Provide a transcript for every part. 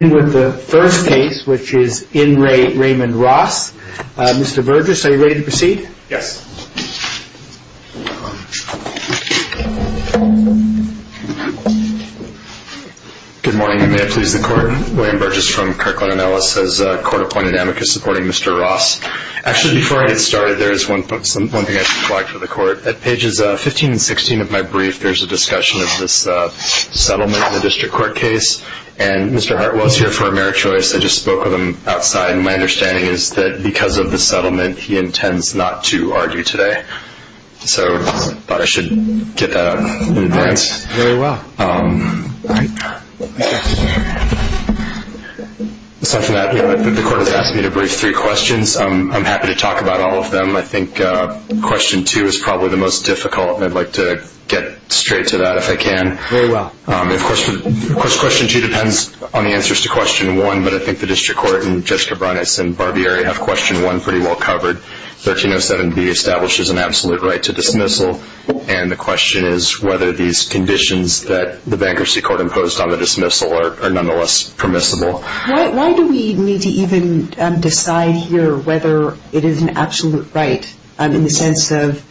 Mr. Burgess, are you ready to proceed? Yes. Good morning, and may it please the Court. William Burgess from Kirkland & Ellis has court-appointed amicus supporting Mr. Ross. Actually, before I get started, there is one thing I should flag for the Court. At pages 15 and 16 of my brief, there is a discussion of this settlement in the district court case, and Mr. Hartwell is here for a mere choice. I just spoke with him outside, and my understanding is that because of the settlement, he intends not to argue today. So I thought I should get that out in advance. All right. Very well. The Court has asked me to brief three questions. I'm happy to talk about all of them. I think question two is probably the most difficult, and I'd like to get straight to that if I can. Very well. Of course, question two depends on the answers to question one, but I think the district court and Judge Cabranes and Barbieri have question one pretty well covered. 1307B establishes an absolute right to dismissal, and the question is whether these conditions that the bankruptcy court imposed on the dismissal are nonetheless permissible. Why do we need to even decide here whether it is an absolute right, in the sense of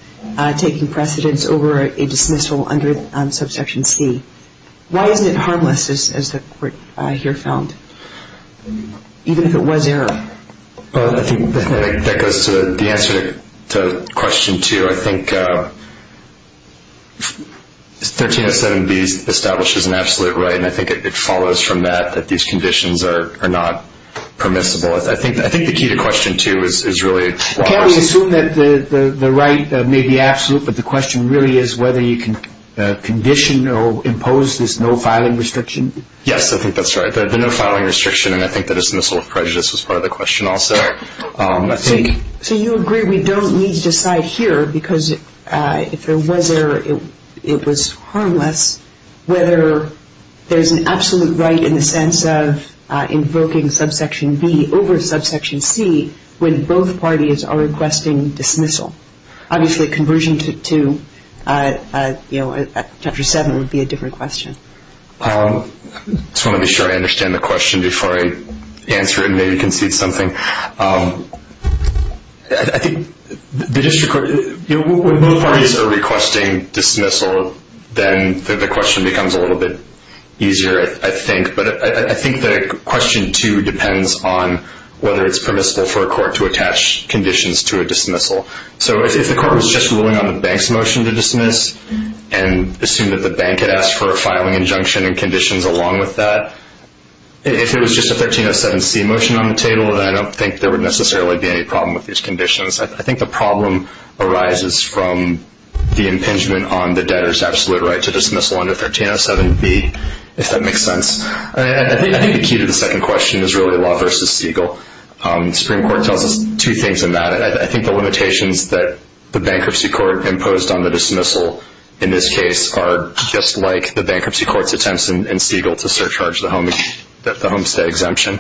taking precedence over a dismissal under subsection C? Why isn't it harmless, as the Court here found, even if it was error? I think that goes to the answer to question two. I think 1307B establishes an absolute right, and I think it follows from that that these conditions are not permissible. I think the key to question two is really why. Can we assume that the right may be absolute, but the question really is whether you can condition or impose this no-filing restriction? Yes, I think that's right, the no-filing restriction, and I think that dismissal of prejudice was part of the question also. So you agree we don't need to decide here because if there was error, it was harmless, whether there's an absolute right in the sense of invoking subsection B over subsection C when both parties are requesting dismissal. Obviously, a conversion to chapter 7 would be a different question. I just want to be sure I understand the question before I answer it and maybe concede something. When both parties are requesting dismissal, then the question becomes a little bit easier, I think. But I think that question two depends on whether it's permissible for a court to attach conditions to a dismissal. So if the court was just ruling on the bank's motion to dismiss and assumed that the bank had asked for a filing injunction and conditions along with that, if it was just a 1307C motion on the table, then I don't think there would necessarily be any problem with these conditions. I think the problem arises from the impingement on the debtor's absolute right to dismissal under 1307B, if that makes sense. I think the key to the second question is really law versus Siegel. The Supreme Court tells us two things in that. I think the limitations that the Bankruptcy Court imposed on the dismissal in this case are just like the Bankruptcy Court's attempts in Siegel to surcharge the homestead exemption.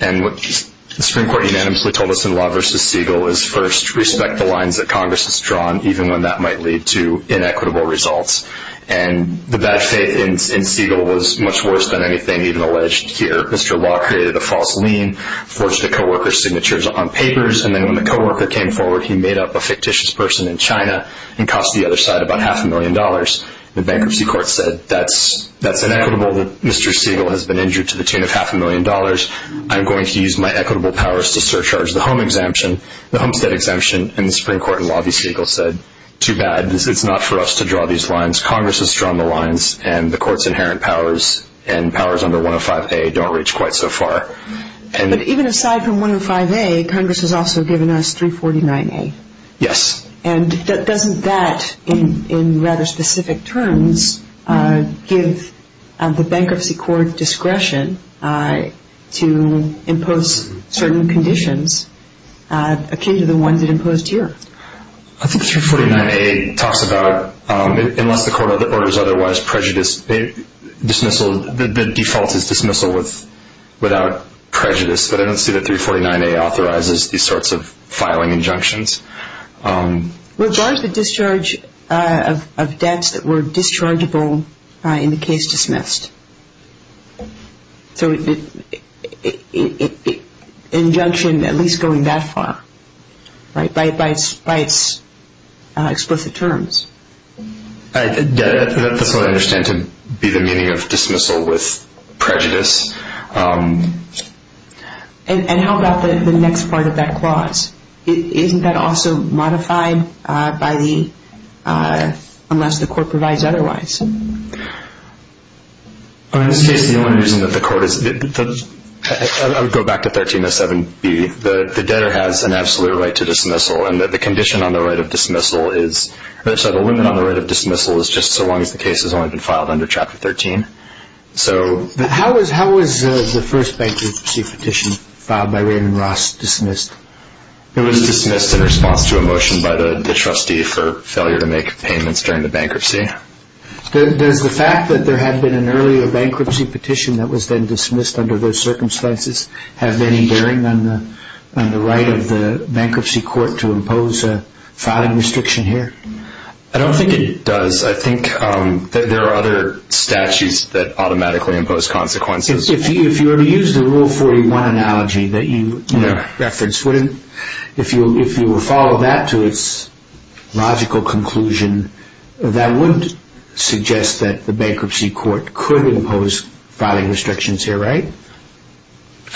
And what the Supreme Court unanimously told us in law versus Siegel is, first, respect the lines that Congress has drawn, even when that might lead to inequitable results. And the bad faith in Siegel was much worse than anything even alleged here. Mr. Law created a false lien, forged the co-worker's signatures on papers, and then when the co-worker came forward, he made up a fictitious person in China and cost the other side about half a million dollars. The Bankruptcy Court said, that's inequitable. Mr. Siegel has been injured to the tune of half a million dollars. I'm going to use my equitable powers to surcharge the homestead exemption. And the Supreme Court in law versus Siegel said, too bad. It's not for us to draw these lines. Congress has drawn the lines, and the Court's inherent powers and powers under 105A don't reach quite so far. But even aside from 105A, Congress has also given us 349A. Yes. And doesn't that, in rather specific terms, give the Bankruptcy Court discretion to impose certain conditions akin to the ones it imposed here? I think 349A talks about, unless the Court orders otherwise, prejudice, dismissal, the default is dismissal without prejudice. But I don't see that 349A authorizes these sorts of filing injunctions. Regards the discharge of debts that were dischargeable in the case dismissed. So injunction at least going that far, right, by its explicit terms. That's what I understand to be the meaning of dismissal with prejudice. And how about the next part of that clause? Isn't that also modified by the, unless the Court provides otherwise? In this case, the only reason that the Court is, I would go back to 1307B, the debtor has an absolute right to dismissal, and the condition on the right of dismissal is, sorry, the limit on the right of dismissal is just so long as the case has only been filed under Chapter 13. How was the first bankruptcy petition filed by Raymond Ross dismissed? It was dismissed in response to a motion by the trustee for failure to make payments during the bankruptcy. Does the fact that there had been an earlier bankruptcy petition that was then dismissed under those circumstances have any bearing on the right of the bankruptcy court to impose a filing restriction here? I don't think it does. I think that there are other statutes that automatically impose consequences. If you were to use the Rule 41 analogy that you referenced, if you would follow that to its logical conclusion, that wouldn't suggest that the bankruptcy court could impose filing restrictions here, right?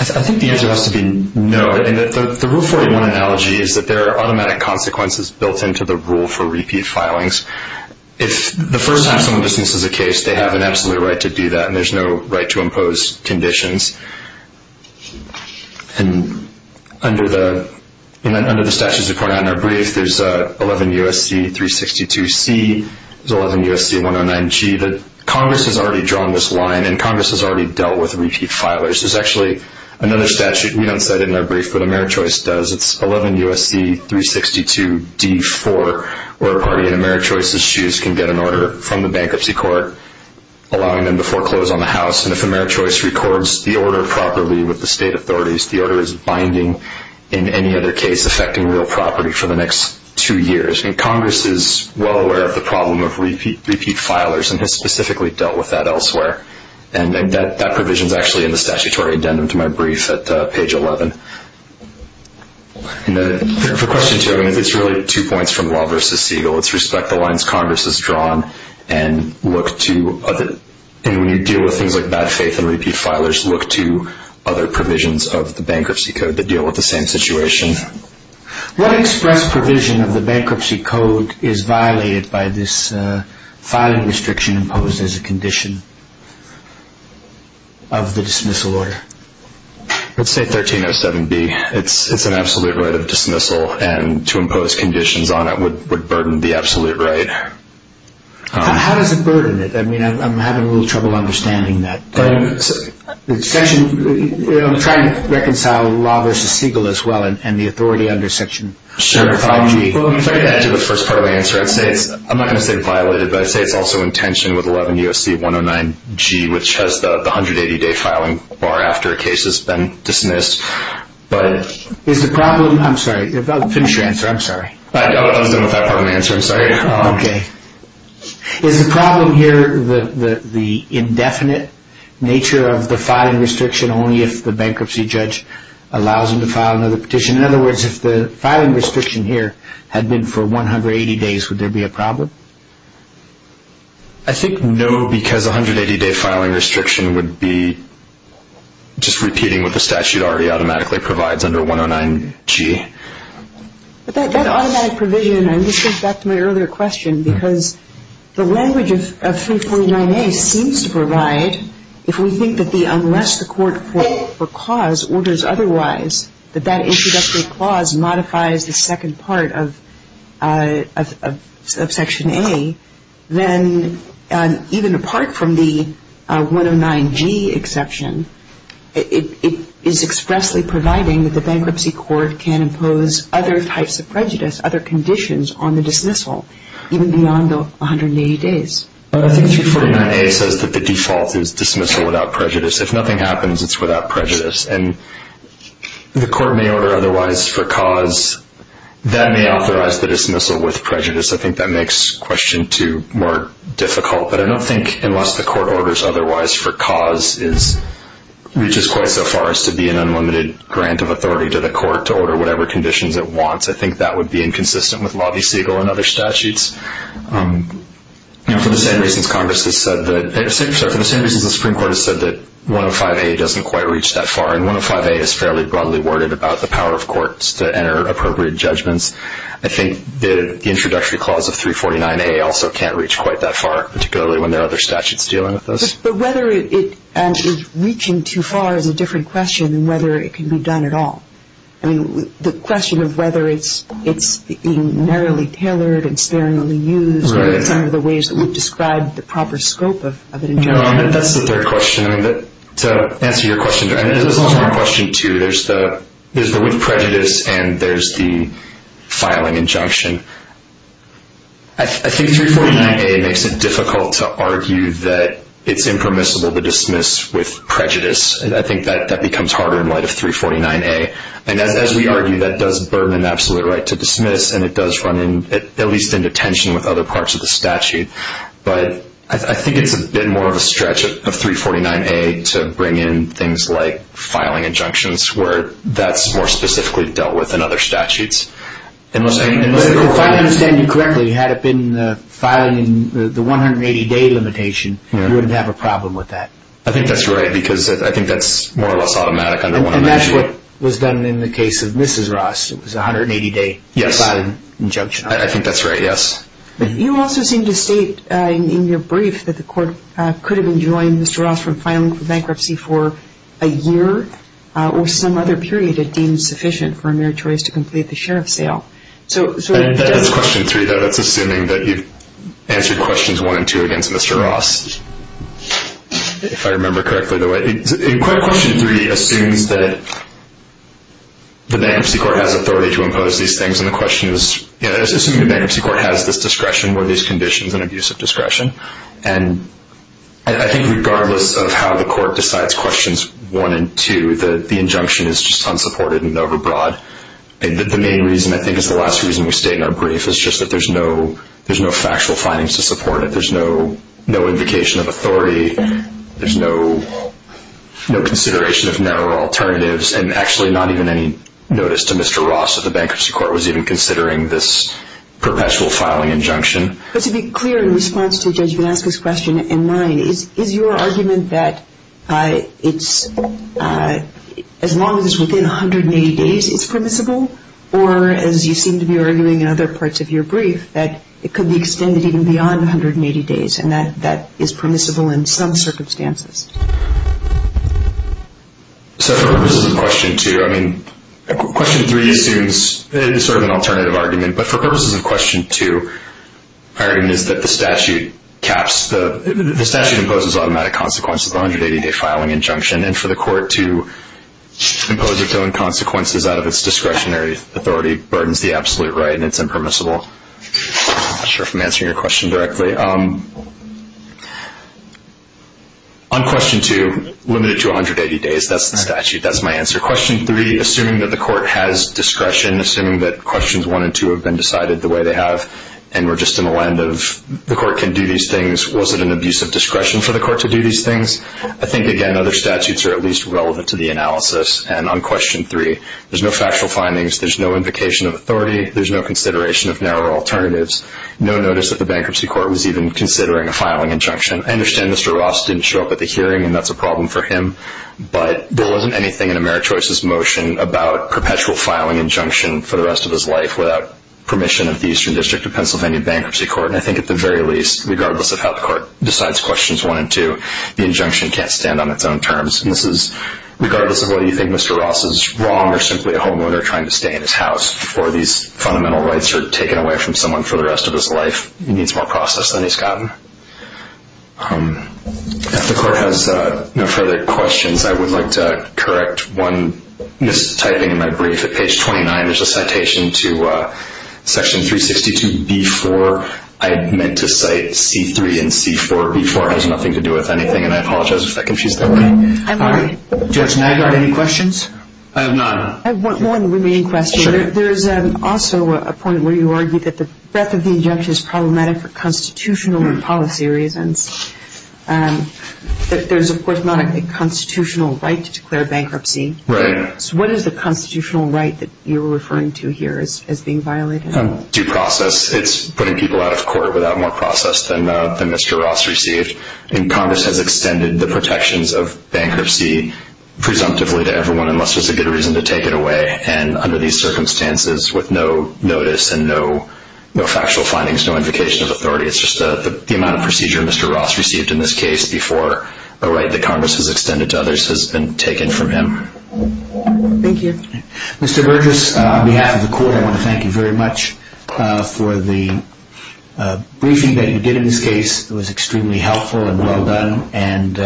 I think the answer has to be no. The Rule 41 analogy is that there are automatic consequences built into the rule for repeat filings. If the first time someone dismisses a case, they have an absolute right to do that, and there's no right to impose conditions. Under the statutes we point out in our brief, there's 11 U.S.C. 362C, there's 11 U.S.C. 109G. Congress has already drawn this line, and Congress has already dealt with repeat filers. There's actually another statute. We don't cite it in our brief, but AmeriChoice does. It's 11 U.S.C. 362D4, where a party in AmeriChoice's shoes can get an order from the bankruptcy court allowing them to foreclose on the house, and if AmeriChoice records the order properly with the state authorities, the order is binding in any other case affecting real property for the next two years. Congress is well aware of the problem of repeat filers and has specifically dealt with that elsewhere, and that provision is actually in the statutory addendum to my brief at page 11. For question two, it's really two points from Law v. Siegel. It's respect the lines Congress has drawn, and when you deal with things like bad faith and repeat filers, look to other provisions of the bankruptcy code that deal with the same situation. What express provision of the bankruptcy code is violated by this filing restriction imposed as a condition of the dismissal order? Let's say 1307B. It's an absolute right of dismissal, and to impose conditions on it would burden the absolute right. How does it burden it? I'm having a little trouble understanding that. I'm trying to reconcile Law v. Siegel as well and the authority under Section 5G. If I could add to the first part of the answer, I'm not going to say it's violated, but I'd say it's also in tension with 11 U.S.C. 109G, which has the 180-day filing bar after a case has been dismissed. Is the problem here the indefinite nature of the filing restriction only if the bankruptcy judge allows him to file another petition? In other words, if the filing restriction here had been for 180 days, would there be a problem? I think no, because a 180-day filing restriction would be just repeating what the statute already automatically provides under 109G. But that automatic provision, and this goes back to my earlier question, because the language of 349A seems to provide if we think that unless the court for cause orders otherwise, that that introductory clause modifies the second part of Section A, then even apart from the 109G exception, it is expressly providing that the bankruptcy court can impose other types of prejudice, other conditions on the dismissal even beyond the 180 days. I think 349A says that the default is dismissal without prejudice. If nothing happens, it's without prejudice. And the court may order otherwise for cause. That may authorize the dismissal with prejudice. I think that makes question two more difficult. But I don't think unless the court orders otherwise for cause reaches quite so far as to be an unlimited grant of authority to the court to order whatever conditions it wants, I think that would be inconsistent with Lobby-Segal and other statutes. For the same reasons Congress has said that, sorry, for the same reasons the Supreme Court has said that 105A doesn't quite reach that far, and 105A is fairly broadly worded about the power of courts to enter appropriate judgments, I think the introductory clause of 349A also can't reach quite that far, particularly when there are other statutes dealing with this. But whether it is reaching too far is a different question than whether it can be done at all. The question of whether it's being narrowly tailored and sparingly used are some of the ways that we've described the proper scope of an injunction. That's the third question. To answer your question, there's also a question, too, there's the with prejudice and there's the filing injunction. I think 349A makes it difficult to argue that it's impermissible to dismiss with prejudice. I think that becomes harder in light of 349A. And as we argue, that does burden an absolute right to dismiss, and it does run at least into tension with other parts of the statute. But I think it's a bit more of a stretch of 349A to bring in things like filing injunctions where that's more specifically dealt with than other statutes. If I understand you correctly, had it been filing the 180-day limitation, you wouldn't have a problem with that. I think that's right because I think that's more or less automatic under one measure. And that's what was done in the case of Mrs. Ross. It was a 180-day filing injunction. I think that's right, yes. But you also seem to state in your brief that the court could have enjoined Mr. Ross from filing for bankruptcy for a year or some other period it deemed sufficient for a meritorious to complete the sheriff's sale. That is question three, though. That's assuming that you've answered questions one and two against Mr. Ross, if I remember correctly the way. Question three assumes that the bankruptcy court has authority to impose these things, and the question is assuming the bankruptcy court has this discretion or these conditions and abuse of discretion. And I think regardless of how the court decides questions one and two, the injunction is just unsupported and overbroad. The main reason, I think, is the last reason we state in our brief, is just that there's no factual findings to support it. There's no indication of authority. There's no consideration of narrow alternatives, and actually not even any notice to Mr. Ross that the bankruptcy court was even considering this perpetual filing injunction. But to be clear in response to Judge Vanaska's question and mine, is your argument that as long as it's within 180 days it's permissible, or as you seem to be arguing in other parts of your brief, that it could be extended even beyond 180 days and that that is permissible in some circumstances? So for purposes of question two, I mean, question three assumes it is sort of an alternative argument, but for purposes of question two, my argument is that the statute imposes automatic consequences of 180-day filing injunction, and for the court to impose its own consequences out of its discretionary authority burdens the absolute right and it's impermissible. I'm not sure if I'm answering your question directly. On question two, limited to 180 days, that's the statute. That's my answer. Question three, assuming that the court has discretion, assuming that questions one and two have been decided the way they have and we're just in the land of the court can do these things, was it an abuse of discretion for the court to do these things? I think, again, other statutes are at least relevant to the analysis. And on question three, there's no factual findings, there's no invocation of authority, there's no consideration of narrow alternatives, no notice that the bankruptcy court was even considering a filing injunction. I understand Mr. Ross didn't show up at the hearing and that's a problem for him, but there wasn't anything in AmeriChoice's motion about perpetual filing injunction for the rest of his life without permission of the Eastern District of Pennsylvania Bankruptcy Court. And I think at the very least, regardless of how the court decides questions one and two, the injunction can't stand on its own terms. And this is regardless of whether you think Mr. Ross is wrong or simply a homeowner trying to stay in his house before these fundamental rights are taken away from someone for the rest of his life, he needs more process than he's gotten. If the court has no further questions, I would like to correct one mistyping in my brief. At page 29, there's a citation to section 362B-4. I meant to cite C-3 and C-4. B-4 has nothing to do with anything, and I apologize if that confused everybody. I'm sorry. Judge Naggard, any questions? I have none. I have one remaining question. Sure. There is also a point where you argue that the breadth of the injunction is problematic for constitutional and policy reasons. There's, of course, not a constitutional right to declare bankruptcy. Right. So what is the constitutional right that you're referring to here as being violated? Due process. It's putting people out of court without more process than Mr. Ross received. And Congress has extended the protections of bankruptcy presumptively to everyone unless there's a good reason to take it away. And under these circumstances, with no notice and no factual findings, no invocation of authority, it's just the amount of procedure Mr. Ross received in this case before a right that Congress has extended to others has been taken from him. Thank you. Mr. Burgess, on behalf of the court, I want to thank you very much for the briefing that you did in this case. It was extremely helpful and well done, and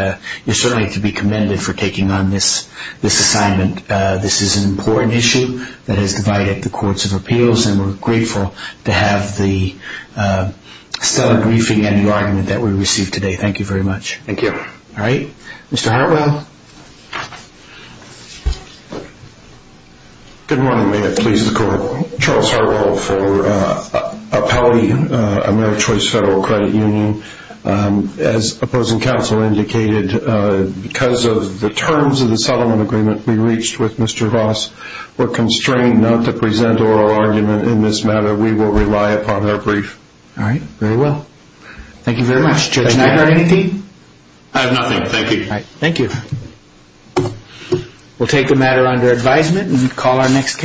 you're certainly to be commended for taking on this assignment. This is an important issue that has divided the courts of appeals, and we're grateful to have the stellar briefing and the argument that we received today. Thank you very much. Thank you. All right. Mr. Hartwell. Good morning. May it please the court. Charles Hartwell for Appellee AmeriChoice Federal Credit Union. As opposing counsel indicated, because of the terms of the settlement agreement we reached with Mr. Ross, we're constrained not to present oral argument in this matter. We will rely upon our brief. All right. Very well. Thank you very much. Did you have anything? I have nothing. Thank you. All right. Thank you. We'll take the matter under advisement and call our next case.